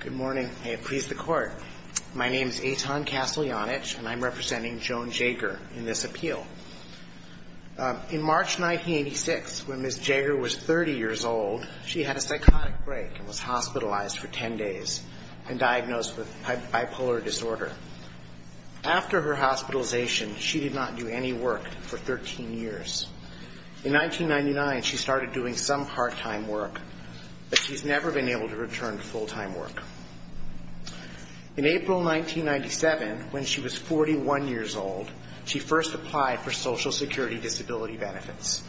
Good morning. May it please the Court. My name is Eitan Kasteljanich, and I'm representing Joan Jager in this appeal. In March 1986, when Ms. Jager was 30 years old, she had a psychotic break and was hospitalized for 10 days and diagnosed with bipolar disorder. After her hospitalization, she did not do any work for 13 years. In 1999, she started doing some part-time work, but she's never been able to return to full-time work. In April 1997, when she was 41 years old, she first applied for Social Security Disability Benefits.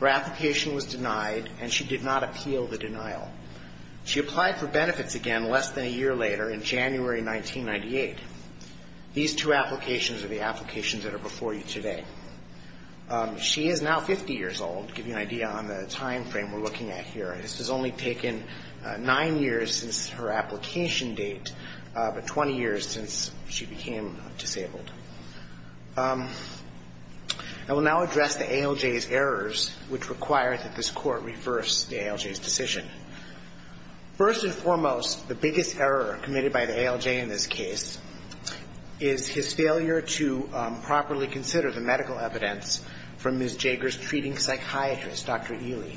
Her application was denied, and she did not appeal the denial. She applied for benefits again less than a year later in January 1998. These two applications are the applications that are before you today. She is now 50 years old. To give you an idea on the timeframe we're looking at here, this has only taken nine years since her application date, but 20 years since she became disabled. I will now address the ALJ's errors, which require that this Court reverse the ALJ's decision. First and foremost, the biggest error committed by the ALJ in this case is his failure to properly consider the medical evidence from Ms. Jager's treating psychiatrist, Dr. Ely.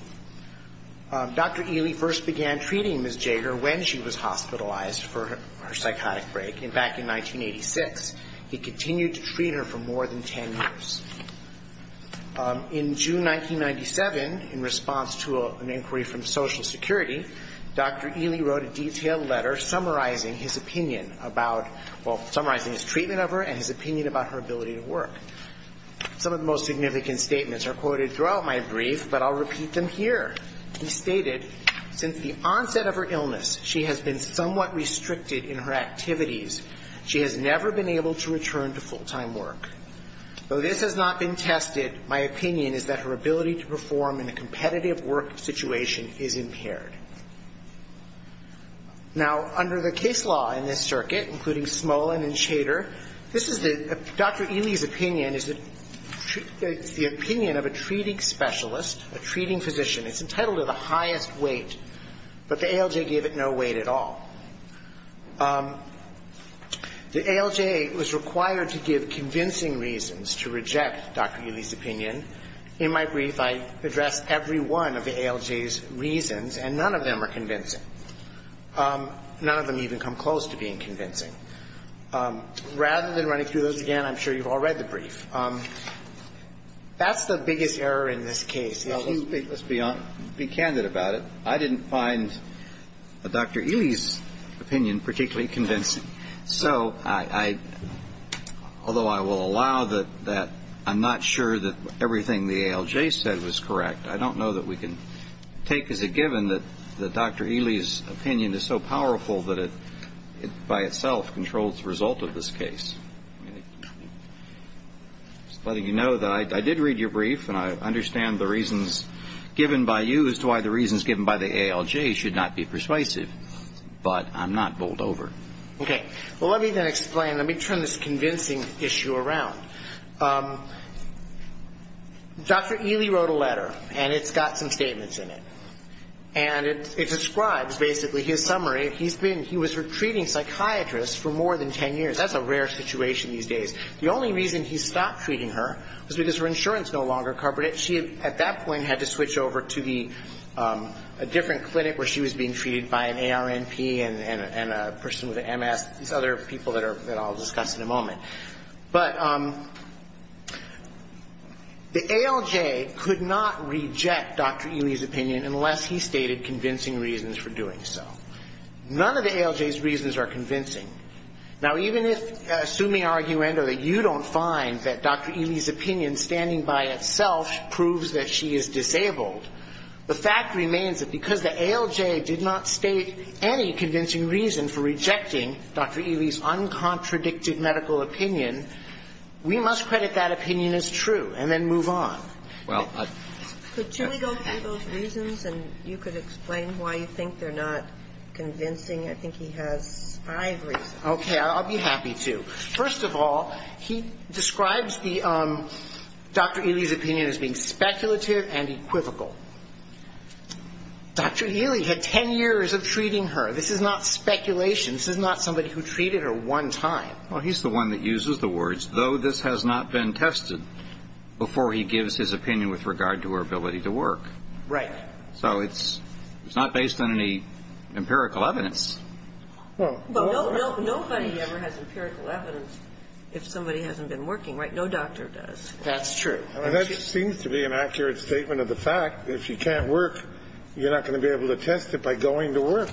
Dr. Ely first began treating Ms. Jager when she was hospitalized for her psychotic break. Back in 1986, he continued to treat her for more than 10 years. In June 1997, in response to an inquiry from Social Security, Dr. Ely wrote a detailed letter summarizing his opinion about, well, summarizing his treatment of her and his opinion about her ability to work. Some of the most significant statements are quoted throughout my brief, but I'll repeat them here. He stated, since the onset of her illness, she has been somewhat restricted in her activities. She has never been able to return to full-time work. Though this has not been tested, my opinion is that her ability to perform in a competitive work situation is impaired. Now, under the case law in this circuit, including Smolin and Shader, this is the Dr. Ely's opinion, is the opinion of a treating specialist, a treating physician. It's entitled to the highest weight, but the ALJ gave it no weight at all. The ALJ was required to give convincing evidence that the patient's condition was unbearable. In my brief, I address every one of the ALJ's reasons, and none of them are convincing. None of them even come close to being convincing. Rather than running through those again, I'm sure you've all read the brief. That's the biggest error in this case. Now, let's be candid about it. I didn't find Dr. Ely's opinion particularly convincing. So I, although I will allow you to read the brief, I will allow that I'm not sure that everything the ALJ said was correct. I don't know that we can take as a given that Dr. Ely's opinion is so powerful that it by itself controls the result of this case. I'm just letting you know that I did read your brief, and I understand the reasons given by you as to why the reasons given by the ALJ should not be persuasive. But I'm not bowled over. Okay. Well, let me then explain. Let me turn this convincing issue around. Dr. Ely wrote a letter, and it's got some statements in it. And it describes basically his summary. He's been, he was a treating psychiatrist for more than ten years. That's a rare situation these days. The only reason he stopped treating her was because her insurance no longer covered it. She, at that point, had to switch over to the, a different clinic where she was being treated by an ARNP and a person with an MS, these other people that I'll discuss in a moment. But the ALJ could not reject Dr. Ely's opinion unless he stated convincing reasons for doing so. None of the ALJ's reasons are convincing. Now, even if, assuming arguendo that you don't find that Dr. Ely's opinion standing by itself proves that she is disabled, the fact remains that because the ALJ did not state any convincing reason for rejecting Dr. Ely's uncontradicted medical opinion, we must credit that opinion as true and then move on. Could you go through those reasons and you could explain why you think they're not convincing? I think he has five reasons. Okay. I'll be happy to. First of all, he describes the, Dr. Ely's opinion as being speculative and equivocal. Dr. Ely's opinion is that Dr. Ely had 10 years of treating her. This is not speculation. This is not somebody who treated her one time. Well, he's the one that uses the words, though this has not been tested, before he gives his opinion with regard to her ability to work. Right. So it's not based on any empirical evidence. But nobody ever has empirical evidence if somebody hasn't been working, right? No doctor does. That's true. And that seems to be an accurate statement of the fact that if she can't work, you're not going to be able to test it by going to work.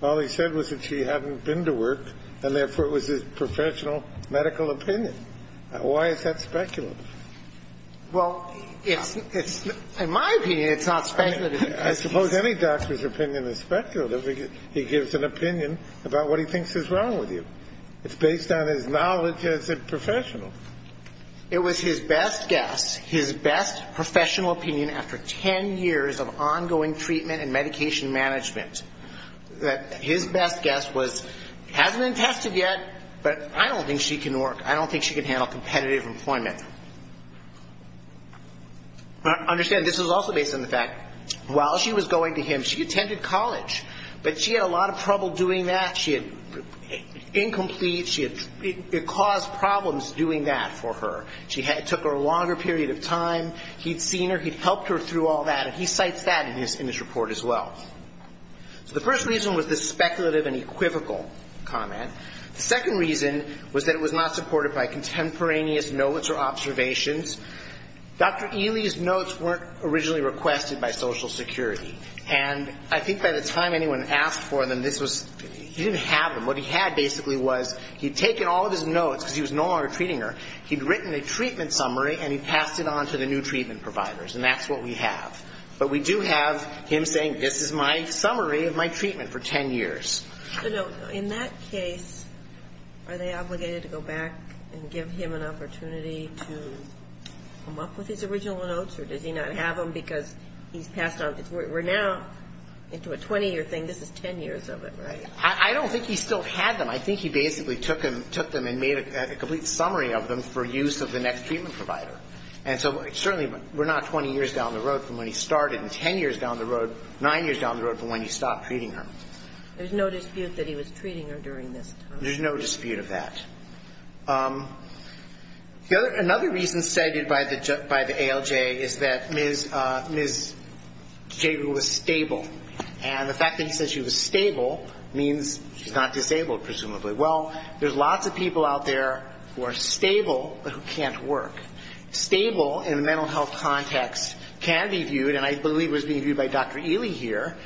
All he said was that she hadn't been to work and therefore it was his professional medical opinion. Why is that speculative? Well, in my opinion, it's not speculative. I suppose any doctor's opinion is speculative. He gives an opinion about what he thinks is wrong with you. It's based on his best guess, his best professional opinion after 10 years of ongoing treatment and medication management. That his best guess was, hasn't been tested yet, but I don't think she can work. I don't think she can handle competitive employment. Understand, this is also based on the fact, while she was going to him, she attended college. But she had a lot of trouble doing that. She had incomplete, it caused problems doing that for her. It took her a longer period of time. He'd seen her. He'd helped her through all that. And he cites that in his report as well. So the first reason was this speculative and equivocal comment. The second reason was that it was not supported by contemporaneous notes or observations. Dr. Ely's notes weren't originally requested by Social Security. And I think by the time anyone asked for them, this was, he didn't have them. What he had basically was, he'd taken all of his notes because he was no longer treating her. He'd written a treatment summary, and he passed it on to the new treatment providers. And that's what we have. But we do have him saying, this is my summary of my treatment for 10 years. In that case, are they obligated to go back and give him an opportunity to come up with his original notes? Or does he not have them because he's passed on? We're now into a 20-year thing. This is 10 years of it, right? I don't think he still had them. I think he basically took them and made a complete summary of them for use of the next treatment provider. And so certainly we're not 20 years down the road from when he started, and 10 years down the road, 9 years down the road from when he stopped treating her. There's no dispute that he was treating her during this time. There's no dispute of that. Another reason cited by the ALJ is that Ms. Jager was stable. And the fact that he said she was stable means she's not disabled, presumably. Well, there's lots of people out there who are stable, but who can't work. Stable in a mental health context can be viewed, and I believe it was being viewed by Dr. Ely here,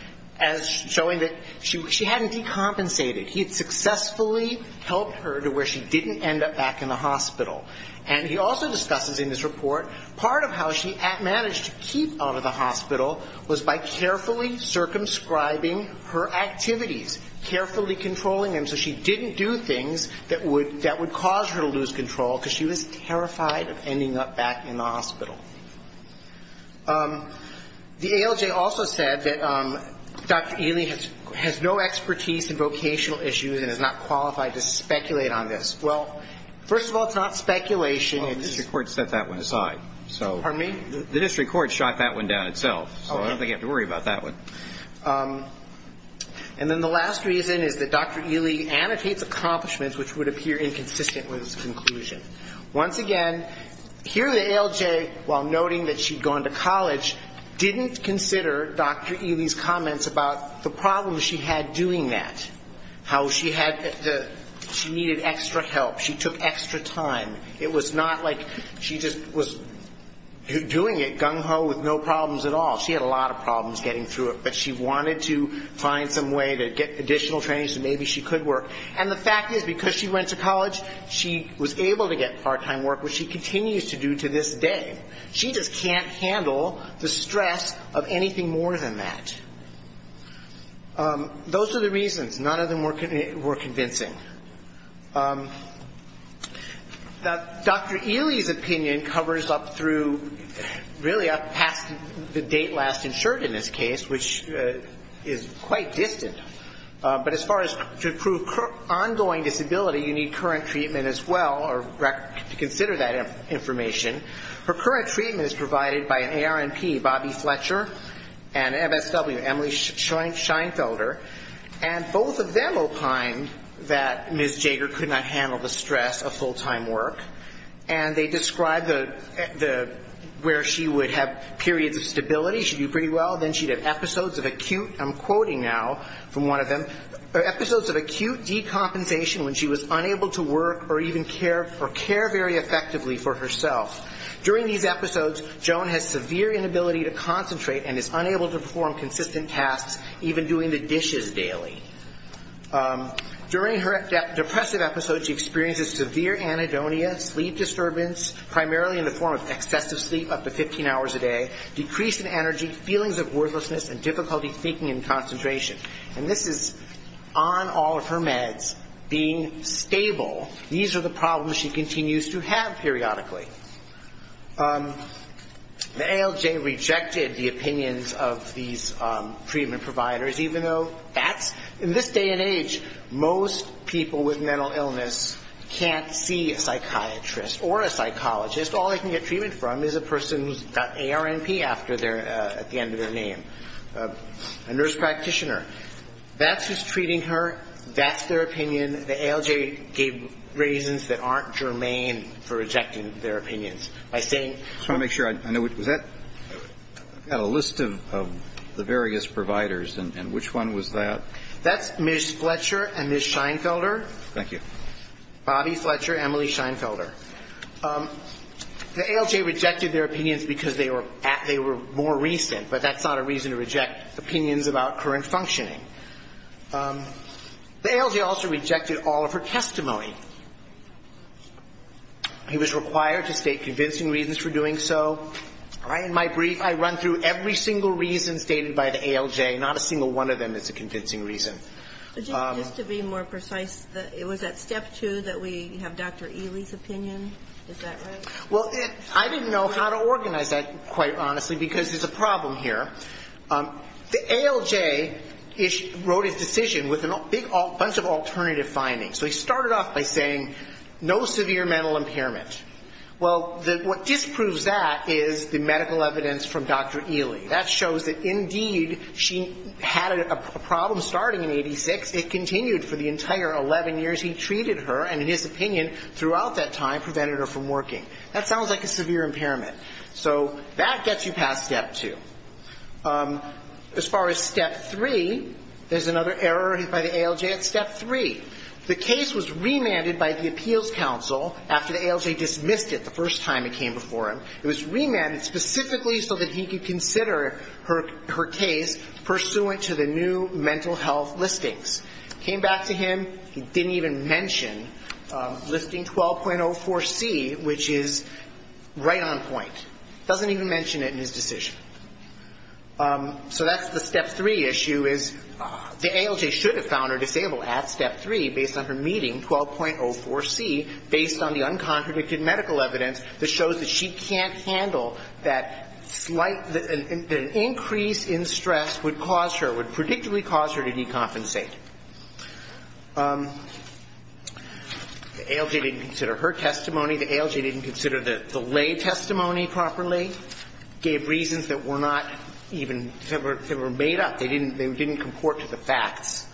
as showing that she hadn't decompensated. He had successfully helped her to where she didn't end up back in the hospital. And he also discusses in this report, part of how she managed to keep out of the hospital was by carefully circumscribing her activities. Carefully controlling them so she didn't do things that would cause her to lose control, because she was terrified of ending up back in the hospital. The ALJ also said that Dr. Ely has no expertise in vocational issues and is not qualified to speculate on this. Well, first of all, it's not speculation. Well, the district court set that one aside. The district court shot that one down itself, so I don't think you have to worry about that one. And then the last reason is that Dr. Ely annotates accomplishments which would appear inconsistent with his conclusion. Once again, here the ALJ, while noting that she'd gone to college, didn't consider Dr. Ely's comments about the problems she had doing that. How she needed extra help, she took extra time. It was not a question of whether or not she was capable of that. It was not like she just was doing it gung-ho with no problems at all. She had a lot of problems getting through it, but she wanted to find some way to get additional training so maybe she could work. And the fact is, because she went to college, she was able to get part-time work, which she continues to do to this day. She just can't handle the stress of anything more than that. Those are the reasons. None of them were convincing. Now, Dr. Ely's opinion covers up through really up past the date last insured in this case, which is quite distant. But as far as to prove ongoing disability, you need current treatment as well to consider that information. Her current treatment is Dr. Bobby Fletcher and MSW, Emily Scheinfelder. And both of them opined that Ms. Jager could not handle the stress of full-time work. And they described where she would have periods of stability. She'd do pretty well. Then she'd have episodes of acute, I'm quoting now from one of them, episodes of acute decompensation when she was unable to work or even care very effectively for herself. During these episodes, Joan has severe inability to concentrate and is unable to perform consistent tasks, even doing the dishes daily. During her depressive episodes, she experiences severe anhedonia, sleep disturbance, primarily in the form of excessive sleep, up to 15 hours a day, decrease in energy, feelings of worthlessness and difficulty thinking and concentration. And this is on all of her meds, being stable. These are the problems she continues to have. Periodically. The ALJ rejected the opinions of these treatment providers, even though that's, in this day and age, most people with mental illness can't see a psychiatrist or a psychologist. All they can get treatment from is a person who's got ARNP at the end of their name, a nurse practitioner. That's who's treating her. That's their opinion. The ALJ gave reasons that aren't germane for rejecting their opinions. By saying So I want to make sure I know, was that, I've got a list of the various providers, and which one was that? That's Ms. Fletcher and Ms. Scheinfelder. Thank you. Bobby Fletcher, Emily Scheinfelder. The ALJ rejected their opinions because they were more recent, but that's not a reason to reject opinions about current functioning. The ALJ also rejected all of her testimony. He was required to state convincing reasons for doing so. In my brief, I run through every single reason stated by the ALJ, not a single one of them that's a convincing reason. Just to be more precise, was that step two that we have Dr. Ely's opinion? Is that right? Well, I didn't know how to organize that, quite honestly, because there's a problem here. The ALJ wrote his decision with a bunch of alternative findings. So he started off by saying no severe mental impairment. Well, what disproves that is the medical evidence from Dr. Ely. That shows that indeed she had a problem starting in 86, it continued for the entire 11 years he treated her, and in his opinion, throughout that time prevented her from working. That sounds like a severe impairment. So that gets you past step two. As far as step three, there's another error by the ALJ at step three. The case was remanded by the appeals council after the ALJ dismissed it the first time it came before him. It was remanded specifically so that he could consider her case pursuant to the new mental health listings. Came back to him, he didn't even mention listing 12.04C, which is right on point. Doesn't even mention it in his decision. So that's the step three issue, is the ALJ should have found her disabled at step three, based on her meeting, 12.04C, based on the uncontradicted medical evidence that shows that she can't handle that slight, that an increase in stress would cause her, would predictably cause her to decompensate. The ALJ didn't consider her testimony, the ALJ didn't consider the lay testimony properly, gave reasons that were not even, that were made up. They didn't comport to the facts.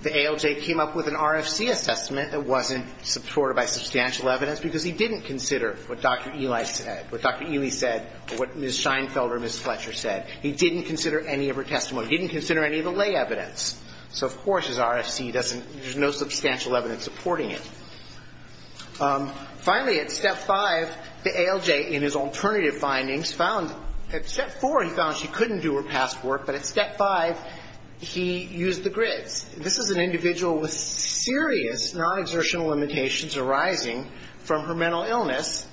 The ALJ came up with an RFC assessment that wasn't supported by substantial evidence, because he didn't consider what Dr. Ely said, what Dr. Ely said, or what Ms. Scheinfeld or Ms. Fletcher said. He didn't consider any of her testimony. He didn't consider any of the lay evidence. So of course his RFC doesn't, there's no substantial evidence supporting it. Finally, at step five, the ALJ, in his alternative findings, found, at step four he found she couldn't do her past work, but at step five he used the grids. This is an individual with serious non-exertional limitations arising from her mental illness,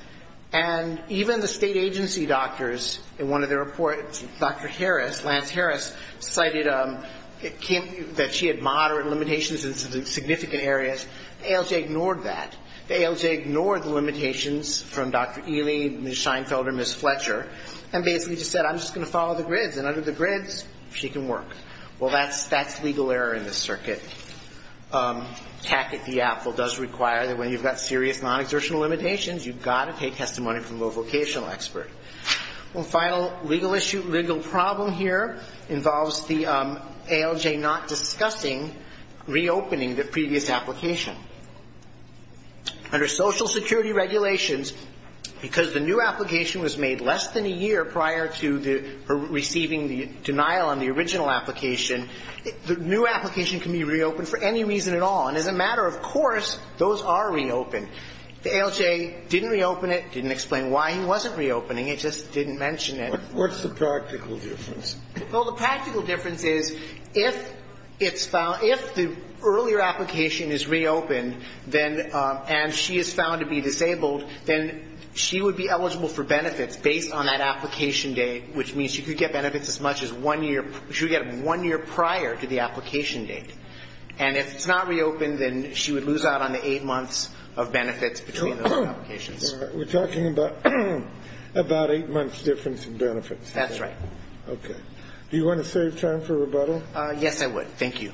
and even the state agency doctors, in one of their reports, Dr. Harris, Lance Harris, cited that she had moderate limitations in significant areas. The ALJ ignored that. The ALJ ignored the limitations from Dr. Ely, Ms. Scheinfeld, or Ms. Fletcher, and basically just said, I'm just going to follow the grids, and under the grids, she can work. Well, that's, that's legal error in this circuit. Tack-it-the-apple does require that when you've got serious non-exertional limitations, you've got to take testimony from a vocational expert. Well, final legal issue, legal problem here involves the ALJ not discussing reopening the previous application. Under social security regulations, because the new application was made less than a year prior to the, receiving the denial on the original application, the new application can be reopened for any reason at all, and as a matter of course, those are reopened. The ALJ didn't reopen it, didn't explain why he wasn't reopening it, just didn't mention it. What's the practical difference? Well, the practical difference is, if it's found, if the earlier application is reopened, then, and she is found to be disabled, then she would be eligible for benefits based on that application date, which means she could get benefits as much as one year, she would get them one year prior to the application date. And if it's not reopened, then she would lose out on the eight months of benefits between those applications. We're talking about eight months difference in benefits. That's right. Okay. Do you want to save time for rebuttal? Yes, I would. Thank you.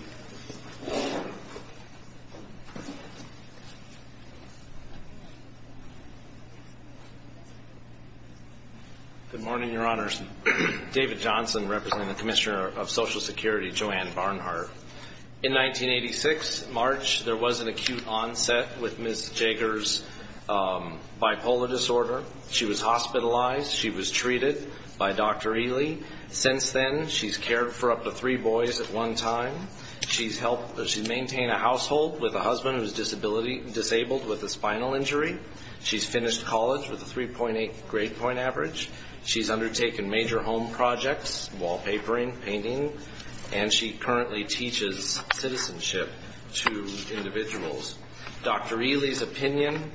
Good morning, Your Honors. David Johnson, representing the Commissioner of Social Security, Joanne Barnhart. In 1986, March, there was an acute onset with Ms. Jager's bipolar disorder. She was hospitalized. She was treated by Dr. Ely. Since then, she's cared for up to three boys at one time. She's maintained a household with a husband who's disabled with a spinal injury. She's finished college with a 3.8 grade point average. She's undertaken major home projects, wallpapering, painting, and she currently teaches citizenship to individuals. Dr. Ely's opinion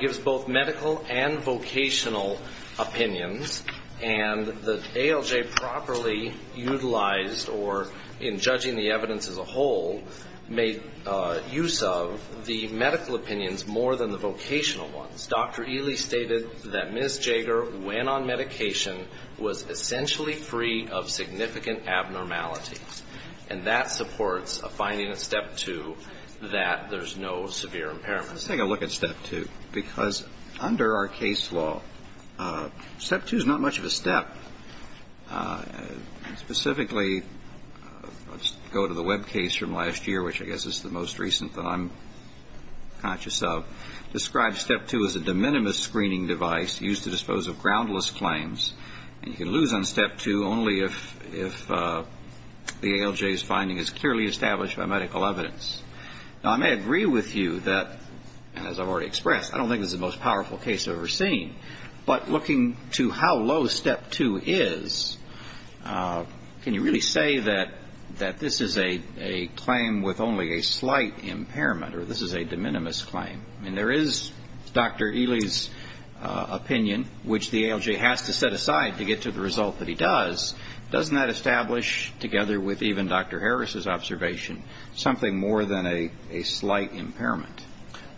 gives both medical and vocational opinions, and the ALS community is a very diverse community. The ALJ properly utilized, or in judging the evidence as a whole, made use of the medical opinions more than the vocational ones. Dr. Ely stated that Ms. Jager, when on medication, was essentially free of significant abnormalities. And that supports a finding in Step 2 that there's no severe impairment. Let's take a look at Step 2, because under our case law, Step 2 is not much of a step. Specifically, let's go to the web case from last year, which I guess is the most recent that I'm conscious of. Describes Step 2 as a de minimis screening device used to dispose of groundless claims. And you can lose on Step 2 only if the ALJ's finding is clearly established by medical evidence. Now, I may agree with you that, as I've already expressed, I don't think this is the most powerful case I've ever seen. But looking to how low Step 2 is, can you really say that this is a claim with only a slight impairment, or this is a de minimis claim? I mean, there is Dr. Ely's opinion, which the ALJ has to set aside to get to the result that he does. Doesn't that establish, together with even Dr. Harris's observation, something more than a slight impairment?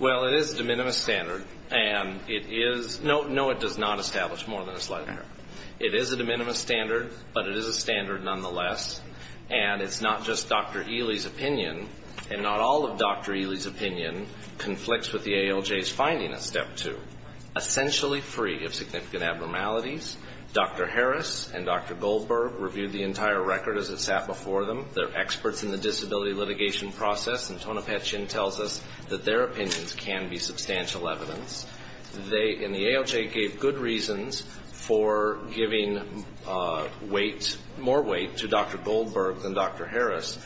Well, it is a de minimis standard, and it is no, no, it does not establish more than a slight impairment. It is a de minimis standard, but it is a standard nonetheless, and it's not just Dr. Ely's opinion, and not all of Dr. Ely's opinion conflicts with the ALJ's finding of Step 2. Essentially free of significant abnormalities, Dr. Harris and Dr. Goldberg reviewed the entire record as it sat before them. They're experts in the disability litigation process, and Tonopet Chin tells us that their opinions can be substantial evidence. They and the ALJ gave good reasons for giving weight, more weight, to Dr. Goldberg than Dr. Harris.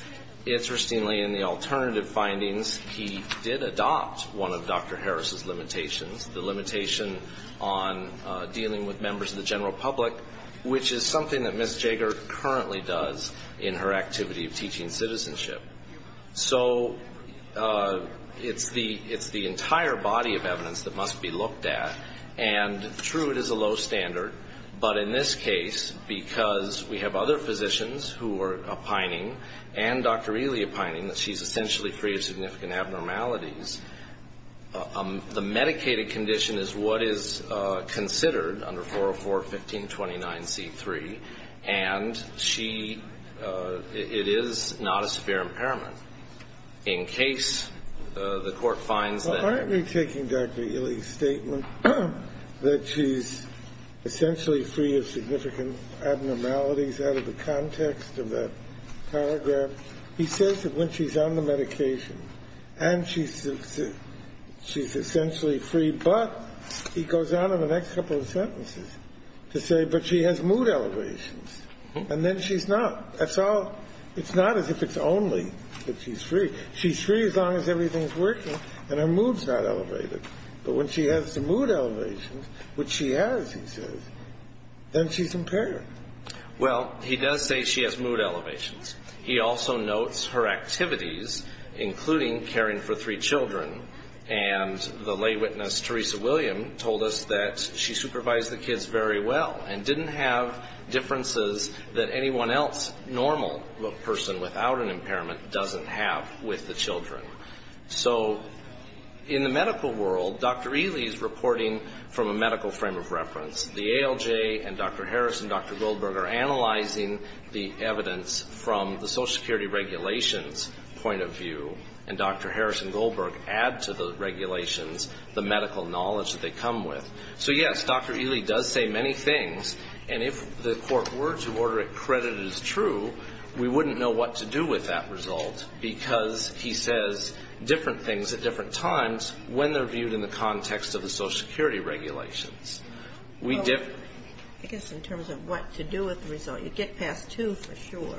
Interestingly, in the alternative findings, he did adopt one of Dr. Harris's limitations, the limitation on dealing with members of the general public, which is something that Ms. Jager currently does in her activities. She's a member of the board of directors of the University of Teaching Citizenship. So it's the entire body of evidence that must be looked at, and true, it is a low standard, but in this case, because we have other physicians who are opining, and Dr. Ely opining, that she's essentially free of significant abnormalities, the medicated condition is what is considered under 404-1529C3, and she, it is not a severe impairment. In case the court finds that... Well, aren't we taking Dr. Ely's statement that she's essentially free of significant abnormalities out of the context of that paragraph? He says that when she's on the medication, and she's essentially free, but he goes on in the next couple of sentences to say, but she has mood allergies. And then she's not. It's not as if it's only that she's free. She's free as long as everything's working, and her mood's not elevated. But when she has the mood elevations, which she has, he says, then she's impaired. Well, he does say she has mood elevations. He also notes her activities, including caring for three children, and the lay witness, Teresa William, told us that she supervised the kids very well, and didn't have differences that anyone else, normal person without an impairment, doesn't have with the children. So in the medical world, Dr. Ely's reporting from a medical frame of reference. The ALJ and Dr. Harris and Dr. Goldberg are analyzing the evidence from the Social Security regulations point of view, and Dr. Harris and Goldberg add to the regulations the medical knowledge that they come with. So yes, Dr. Ely does say many things, and if the court were to order it credited as true, we wouldn't know what to do with that result, because he says different things at different times when they're viewed in the context of the Social Security regulations. I guess in terms of what to do with the result, you get past two for sure,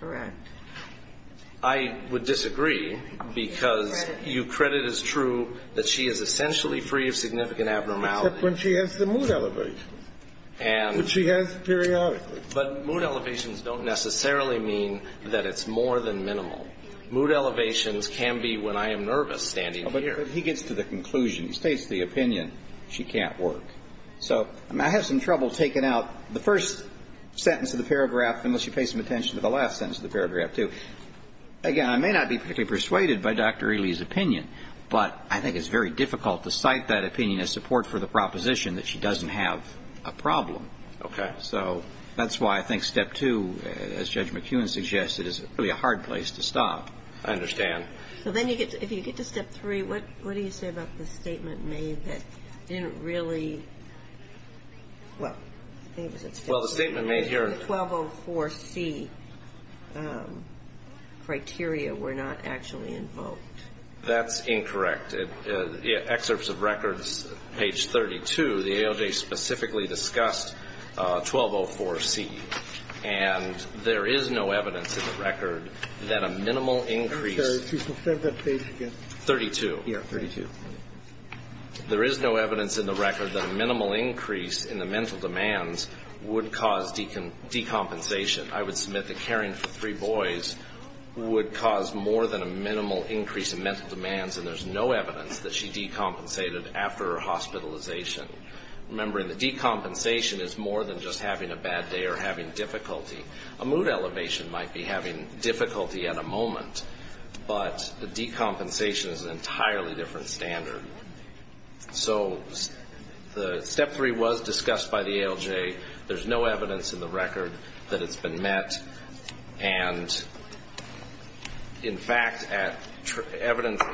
correct? I would disagree, because you credit as true that she is essentially free of significant abnormalities. Except when she has the mood elevations, which she has periodically. But mood elevations don't necessarily mean that it's more than minimal. Mood elevations can be when I am nervous standing here. But he gets to the conclusion, he states the opinion, she can't work. So I have some trouble taking out the first sentence of the paragraph, unless you pay some attention to the last sentence of the paragraph too. Again, I may not be particularly persuaded by Dr. Ely's opinion, but I think it's very difficult to cite that opinion as support for the proposition that she doesn't have a problem. So that's why I think step two, as Judge McEwen suggested, is really a hard place to stop. I understand. So then if you get to step three, what do you say about the statement made that didn't really, well, I think it was a statement. Well, the statement made here. The 1204C criteria were not actually invoked. That's incorrect. Excerpts of records, page 32, the AOJ specifically discussed 1204C. And there is no evidence in the record that a minimal increase. I'm sorry. Please go to that page again. 32. Yeah, 32. There is no evidence in the record that a minimal increase in the mental demands would cause decompensation. I would submit that caring for three boys would cause more than a minimal increase in mental demands, and there's no evidence that she decompensated after her hospitalization. Remember, the decompensation is more than just having a bad day or having difficulty. A mood elevation might be having difficulty at a moment, but the decompensation is an entirely different standard. So step three was discussed by the AOJ. There's no evidence in the record that it's been met. And, in fact, at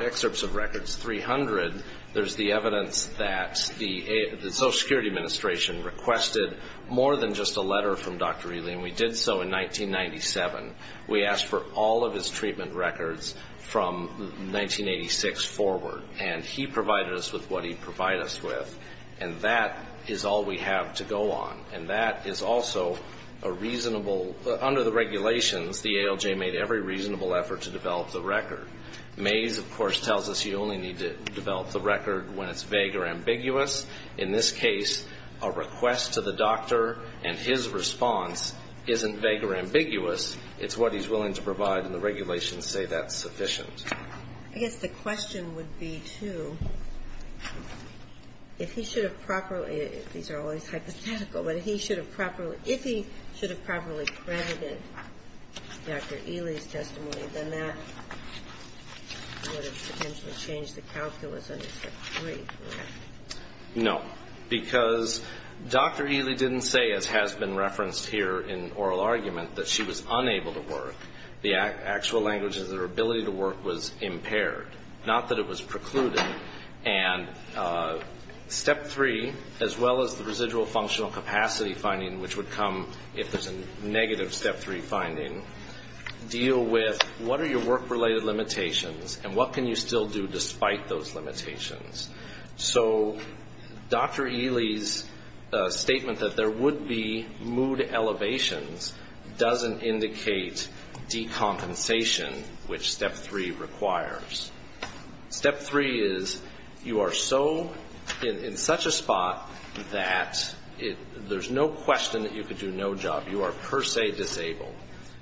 excerpts of records 300, there's the evidence that the Social Security Administration requested more than just a letter from Dr. Ely, and we did so in 1997. We asked for all of his treatment records from 1986 forward, and he provided us with what he'd provide us with. And that is all we have to go on. And that is also a reasonable under the regulations, the AOJ made every reasonable effort to develop the record. Mays, of course, tells us you only need to develop the record when it's vague or ambiguous. In this case, a request to the doctor and his response isn't vague or ambiguous. It's what he's willing to provide, and the regulations say that's sufficient. I guess the question would be, too, if he should have properly ‑‑ these are always hypothetical, but if he should have properly credited Dr. Ely's testimony, then that would have potentially changed the calculus under Step 3. No, because Dr. Ely didn't say, as has been referenced here in oral argument, that she was unable to work. The actual language is that her ability to work was impaired, not that it was precluded. And Step 3, as well as the residual functional capacity finding, which would come if there's a negative Step 3 finding, deal with what are your work‑related limitations and what can you still do despite those limitations. So Dr. Ely's statement that there would be mood elevations doesn't indicate decompensation, which Step 3 requires. Step 3 is you are so in such a spot that there's no question that you could do no job. You are per se disabled.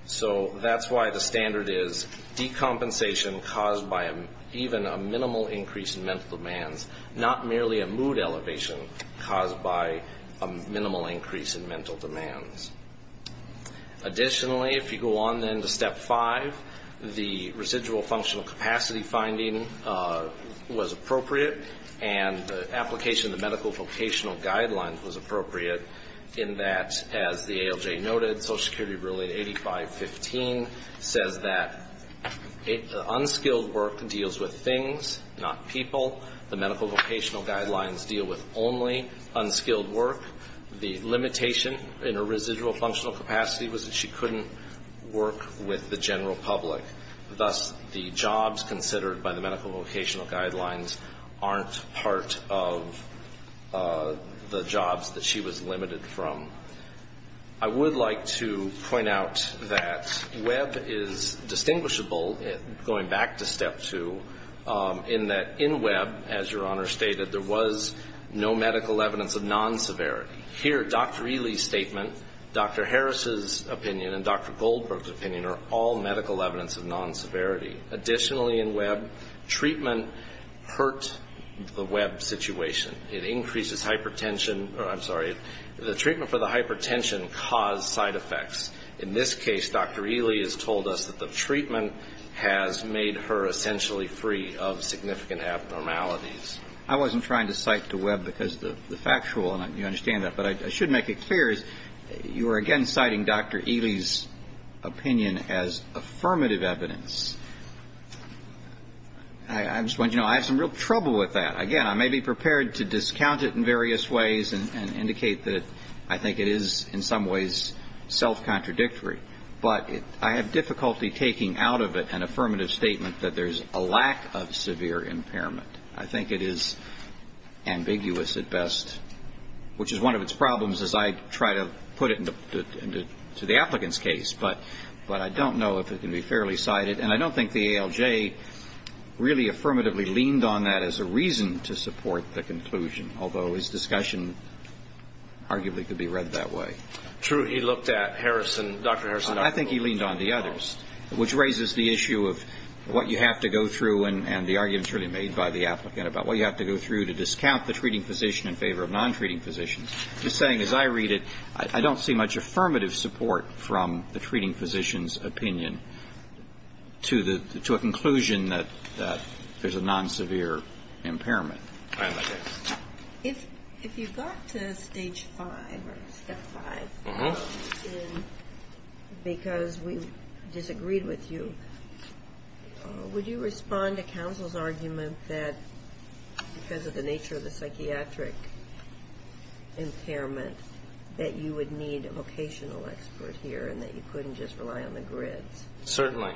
So that's why the standard is decompensation caused by even a minimal increase in mental demands, not merely a mood elevation caused by a minimal increase in mental demands. Additionally, if you go on then to Step 5, the residual functional capacity finding was appropriate and the application of the medical vocational guidelines was appropriate in that, as the ALJ noted, Social Security Ruling 8515 says that unskilled work deals with things, not people. The medical vocational guidelines deal with only unskilled work. The limitation in her residual functional capacity was that she couldn't work with the general public. Thus, the jobs considered by the medical vocational guidelines aren't part of the jobs that she was limited from. I would like to point out that Webb is distinguishable, going back to Step 2, in that in Webb, as Your Honor stated, there was no medical evidence of non-severity. Here, Dr. Ely's statement, Dr. Harris's opinion, and Dr. Goldberg's opinion are all medical evidence of non-severity. Additionally, in Webb, treatment hurt the Webb situation. It increases hypertension or, I'm sorry, the treatment for the hypertension caused side effects. In this case, Dr. Ely has told us that the treatment has made her essentially free of significant abnormalities. I wasn't trying to cite to Webb because of the factual, and you understand that, but I should make it clear is you are again citing Dr. Ely's opinion as affirmative evidence. I just want you to know I have some real trouble with that. Again, I may be prepared to discount it in various ways and indicate that I think it is in some ways self-contradictory, but I have difficulty taking out of it an affirmative statement that there's a lack of severe impairment. I think it is ambiguous at best, which is one of its problems as I try to put it to the applicant's case, but I don't know if it can be fairly cited, and I don't think the ALJ really affirmatively leaned on that as a reason to support the conclusion, although his discussion arguably could be read that way. True, he looked at Harrison, Dr. Harrison. I think he leaned on the others, which raises the issue of what you have to go through and the arguments really made by the applicant about what you have to go through to discount the treating physician in favor of non-treating physicians. I'm just saying as I read it, I don't see much affirmative support from the treating physician's opinion to a conclusion that there's a non-severe impairment. If you got to Stage 5 or Step 5 because we disagreed with you, would you respond to counsel's argument that because of the nature of the psychiatric impairment that you would need a vocational expert here and that you couldn't just rely on the grids? Certainly.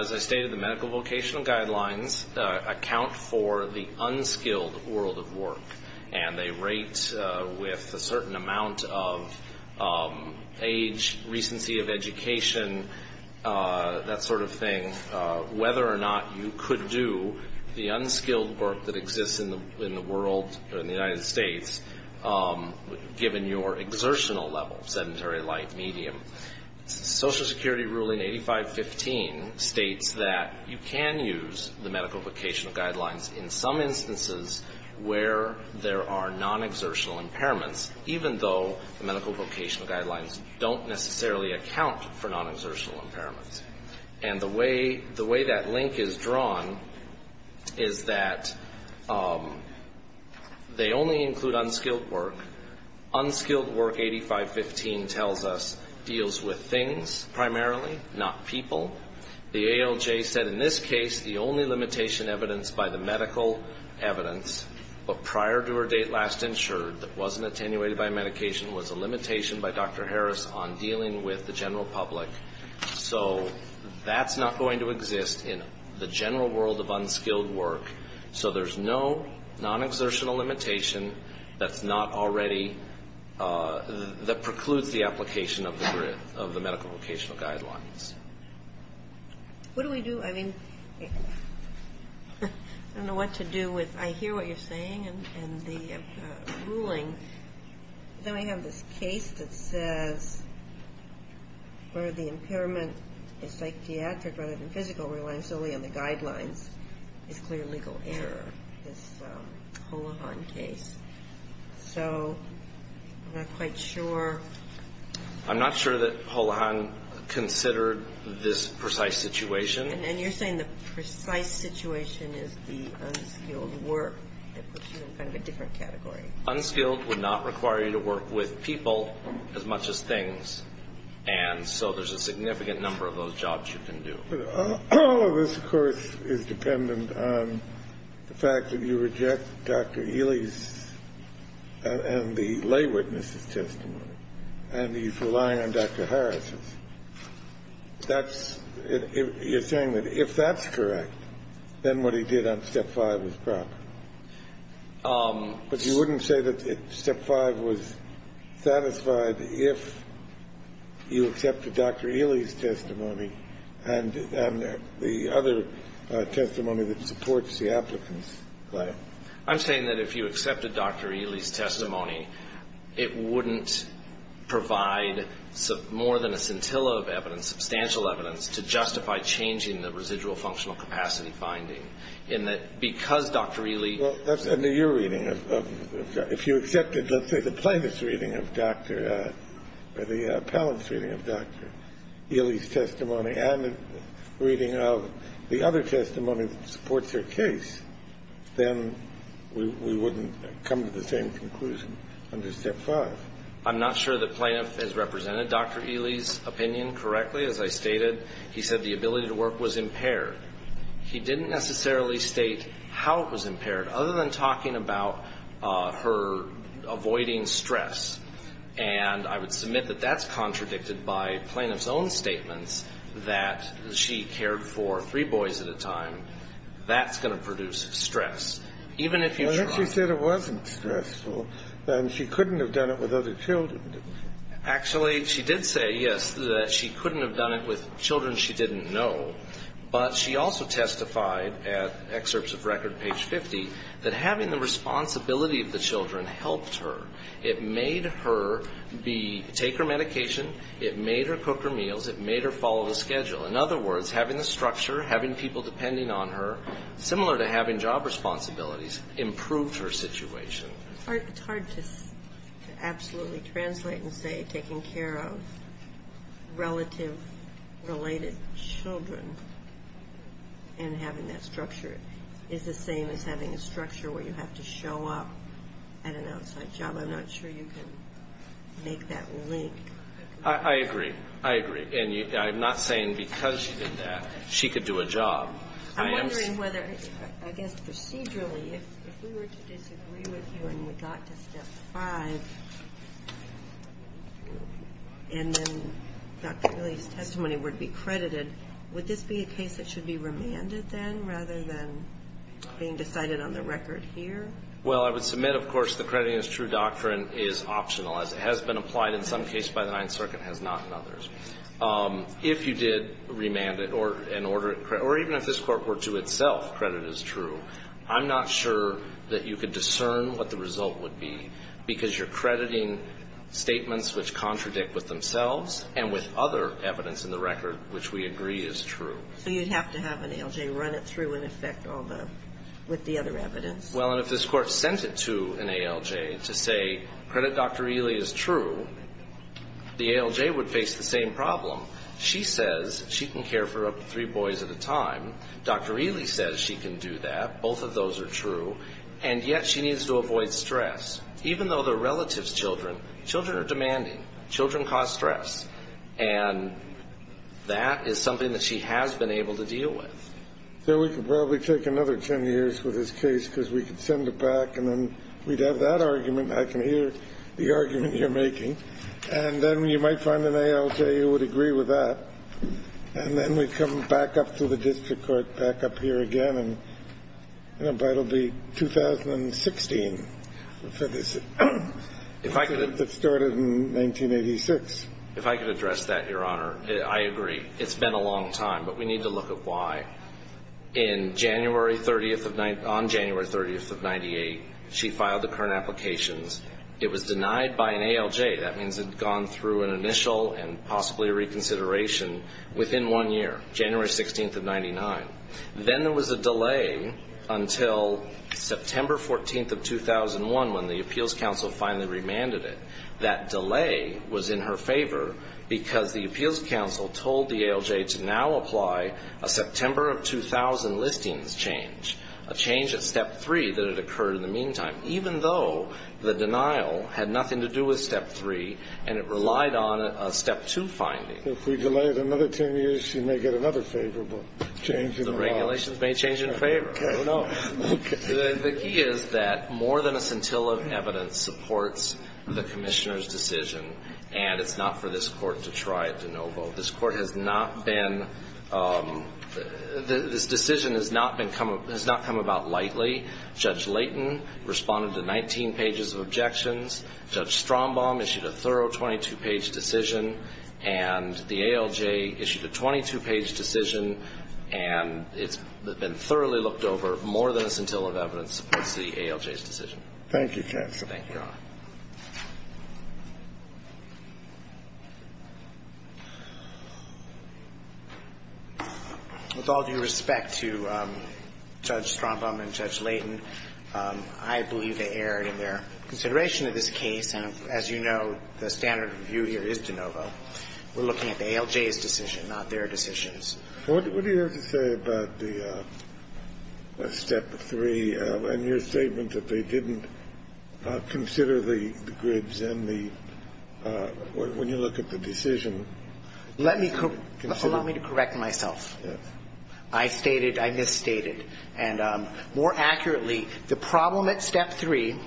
As I stated, the medical vocational guidelines account for the unskilled world of work, and they rate with a certain amount of age, recency of education, that sort of thing, whether or not you could do the unskilled work that exists in the world, in the United States, given your exertional level, sedentary, light, medium. Social Security ruling 8515 states that you can use the medical vocational guidelines in some instances where there are non-exertional impairments, even though the medical vocational guidelines don't necessarily account for non-exertional impairments. And the way that link is drawn is that they only include unskilled work. Unskilled work, 8515 tells us, deals with things primarily, not people. The ALJ said in this case the only limitation evidenced by the medical evidence prior to or date last insured that wasn't attenuated by medication was a limitation by Dr. Harris on dealing with the general public. So that's not going to exist in the general world of unskilled work. So there's no non-exertional limitation that's not already, that precludes the application of the medical vocational guidelines. What do we do, I mean, I don't know what to do with, I hear what you're saying and the ruling. Then we have this case that says where the impairment is psychiatric rather than physical, relies solely on the guidelines, is clear legal error, this Holohan case. So I'm not quite sure. I'm not sure that Holohan considered this precise situation. And you're saying the precise situation is the unskilled work that puts you in kind of a different category. Unskilled would not require you to work with people as much as things. And so there's a significant number of those jobs you can do. But all of this, of course, is dependent on the fact that you reject Dr. Ely's and the lay witness's testimony. And he's relying on Dr. Harris's. That's it. You're saying that if that's correct, then what he did on Step 5 was proper. But you wouldn't say that Step 5 was satisfied if you accepted Dr. Ely's testimony and the other testimony that supports the applicant's claim. I'm saying that if you accepted Dr. Ely's testimony, it wouldn't provide more than a scintilla of evidence, substantial evidence, to justify changing the residual functional capacity finding, in that because Dr. Ely. That's under your reading. If you accepted, let's say, the plaintiff's reading of Dr. or the appellant's reading of Dr. Ely's testimony and the reading of the other testimony that supports their case, then we wouldn't come to the same conclusion under Step 5. I'm not sure the plaintiff has represented Dr. Ely's opinion correctly. As I stated, he said the ability to work was impaired. He didn't necessarily state how it was impaired, other than talking about her avoiding stress. And I would submit that that's contradicted by plaintiff's own statements that she cared for three boys at a time. That's going to produce stress. Even if you try. Well, if she said it wasn't stressful, then she couldn't have done it with other children. Actually, she did say, yes, that she couldn't have done it with children she didn't know. But she also testified at Excerpts of Record, page 50, that having the responsibility of the children helped her. It made her take her medication. It made her cook her meals. It made her follow the schedule. In other words, having the structure, having people depending on her, similar to having job responsibilities, improved her situation. It's hard to absolutely translate and say taking care of relative-related children and having that structure is the same as having a structure where you have to show up at an outside job. I'm not sure you can make that link. I agree. I agree. And I'm not saying because she did that she could do a job. I'm wondering whether, I guess procedurally, if we were to disagree with you and we got to step five and then Dr. Ely's testimony would be credited, would this be a case that should be remanded then rather than being decided on the record here? Well, I would submit, of course, the crediting as true doctrine is optional, as it has been applied in some cases by the Ninth Circuit and has not in others. If you did remand it or an order, or even if this Court were to itself credit as true, I'm not sure that you could discern what the result would be because you're crediting statements which contradict with themselves and with other evidence in the record which we agree is true. So you'd have to have an ALJ run it through and affect all the other evidence. Well, and if this Court sent it to an ALJ to say credit Dr. Ely is true, the ALJ would face the same problem. She says she can care for up to three boys at a time. Dr. Ely says she can do that. Both of those are true. And yet she needs to avoid stress. Even though they're relatives' children, children are demanding. Children cause stress. And that is something that she has been able to deal with. So we could probably take another 10 years with this case because we could send it back and then we'd have that argument. I can hear the argument you're making. And then you might find an ALJ who would agree with that. And then we'd come back up to the district court, back up here again, and it'll be 2016 for this. If I could address that, Your Honor, I agree. It's been a long time. But we need to look at why. On January 30th of 1998, she filed the current applications. It was denied by an ALJ. That means it had gone through an initial and possibly a reconsideration within one year, January 16th of 1999. Then there was a delay until September 14th of 2001 when the Appeals Council finally remanded it. That delay was in her favor because the Appeals Council told the ALJ to now apply a September of 2000 listings change, a change at Step 3 that had occurred in the meantime, even though the denial had nothing to do with Step 3 and it relied on a Step 2 finding. If we delay it another 10 years, she may get another favorable change in her file. The regulations may change in favor. Okay. I don't know. The key is that more than a scintilla of evidence supports the commissioner's decision, and it's not for this court to try it de novo. This decision has not come about lightly. Judge Layton responded to 19 pages of objections. Judge Strombaum issued a thorough 22-page decision, and the ALJ issued a 22-page decision, and it's been thoroughly looked over. More than a scintilla of evidence supports the ALJ's decision. Thank you, counsel. Thank you, Your Honor. With all due respect to Judge Strombaum and Judge Layton, I believe they erred in their consideration of this case. And as you know, the standard of review here is de novo. We're looking at the ALJ's decision, not their decisions. What do you have to say about the Step 3 and your statement that they didn't consider the grids and the – when you look at the decision? Let me – allow me to correct myself. Yes. I stated – I misstated. And more accurately, the problem at Step 3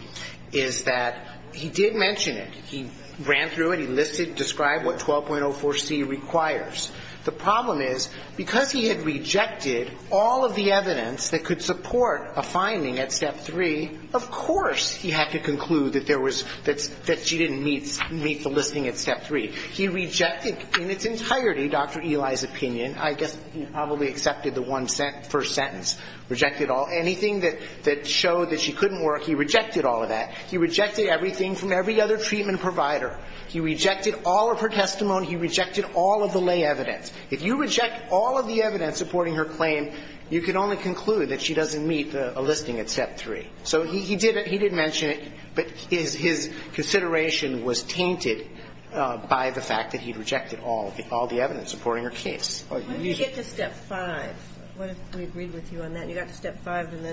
is that he did mention it. He ran through it. He listed – described what 12.04c requires. The problem is, because he had rejected all of the evidence that could support a finding at Step 3, of course he had to conclude that there was – that she didn't meet the listing at Step 3. He rejected in its entirety Dr. Eli's opinion. I guess he probably accepted the one first sentence. Rejected all – anything that showed that she couldn't work, he rejected all of that. He rejected everything from every other treatment provider. He rejected all of her testimony. He rejected all of the lay evidence. If you reject all of the evidence supporting her claim, you can only conclude that she doesn't meet a listing at Step 3. So he did mention it, but his consideration was tainted by the fact that he rejected all the evidence supporting her case. When did you get to Step 5? What if we agreed with you on that? You got to Step 5, and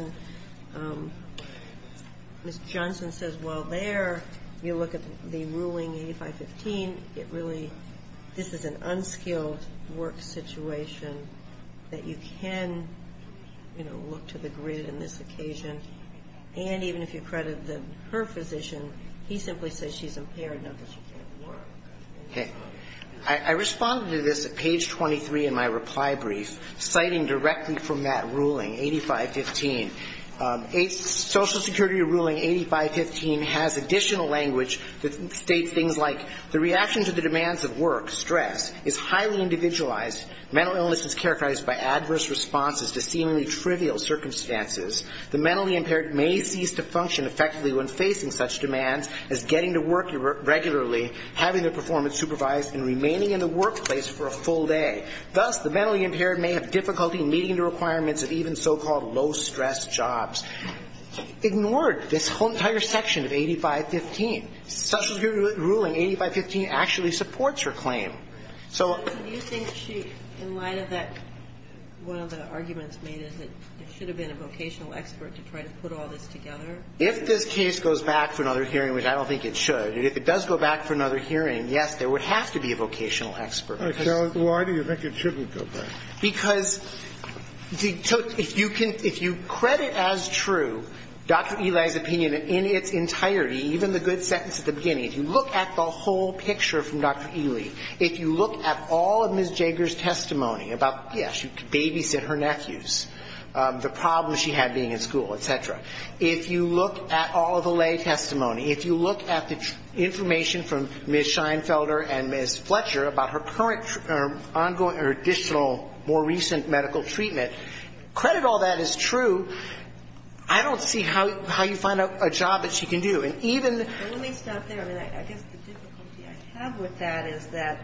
then Ms. Johnson says, well, there, you look at the ruling 8515, it really – this is an unskilled work situation that you can, you know, look to the grid in this occasion. And even if you credit her physician, he simply says she's impaired, not that she can't work. Okay. I responded to this at page 23 in my reply brief, citing directly from that ruling, 8515. Social Security ruling 8515 has additional language that states things like, the reaction to the demands of work, stress, is highly individualized. Mental illness is characterized by adverse responses to seemingly trivial circumstances. The mentally impaired may cease to function effectively when facing such demands as getting to work regularly, having their performance supervised, and remaining in the workplace for a full day. Thus, the mentally impaired may have difficulty meeting the requirements of even so-called low-stress jobs. Ignore this whole entire section of 8515. Social Security ruling 8515 actually supports her claim. So – Do you think she, in light of that, one of the arguments made is that there should have been a vocational expert to try to put all this together? If this case goes back for another hearing, which I don't think it should, if it does go back for another hearing, yes, there would have to be a vocational expert. Why do you think it shouldn't go back? Because if you credit as true Dr. Ely's opinion in its entirety, even the good sentence at the beginning, if you look at the whole picture from Dr. Ely, if you look at all of Ms. Jager's testimony about, yes, she could babysit her nephews, the problems she had being in school, et cetera, if you look at all of Ely's testimony, if you look at the information from Ms. Scheinfelder and Ms. Fletcher about her current ongoing or additional more recent medical treatment, credit all that as true. I don't see how you find out a job that she can do. And even the – Let me stop there. I mean, I guess the difficulty I have with that is that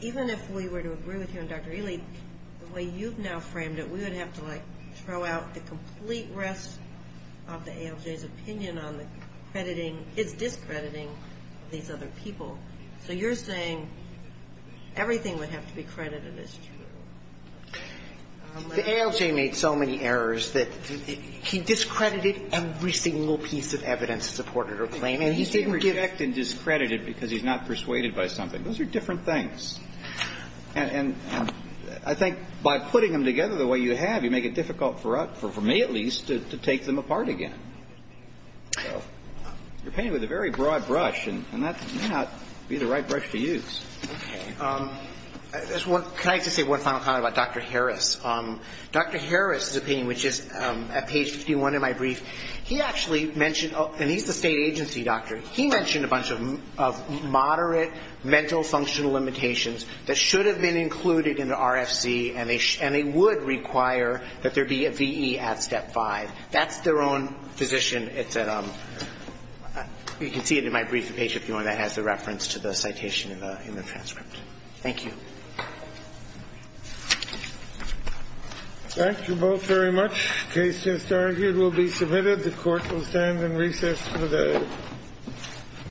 even if we were to agree with you on Dr. Ely, the way you've now framed it, we would have to, like, throw out the complete rest of the ALJ's opinion on the crediting – its discrediting these other people. So you're saying everything would have to be credited as true. The ALJ made so many errors that he discredited every single piece of evidence that supported her claim, and he didn't give – He didn't reject and discredit it because he's not persuaded by something. Those are different things. And I think by putting them together the way you have, you make it difficult for us, for me at least, to take them apart again. You're painting with a very broad brush, and that may not be the right brush to use. Okay. Can I just say one final comment about Dr. Harris? Dr. Harris's opinion, which is at page 51 in my brief, he actually mentioned – and he's the state agency doctor. He mentioned a bunch of moderate mental functional limitations that should have been included in the RFC, and they would require that there be a VE at step five. That's their own position. It's at – you can see it in my brief, the page 51, that has the reference to the citation in the transcript. Thank you. Thank you both very much. The case, as argued, will be submitted. The Court will stand in recess for the hearing.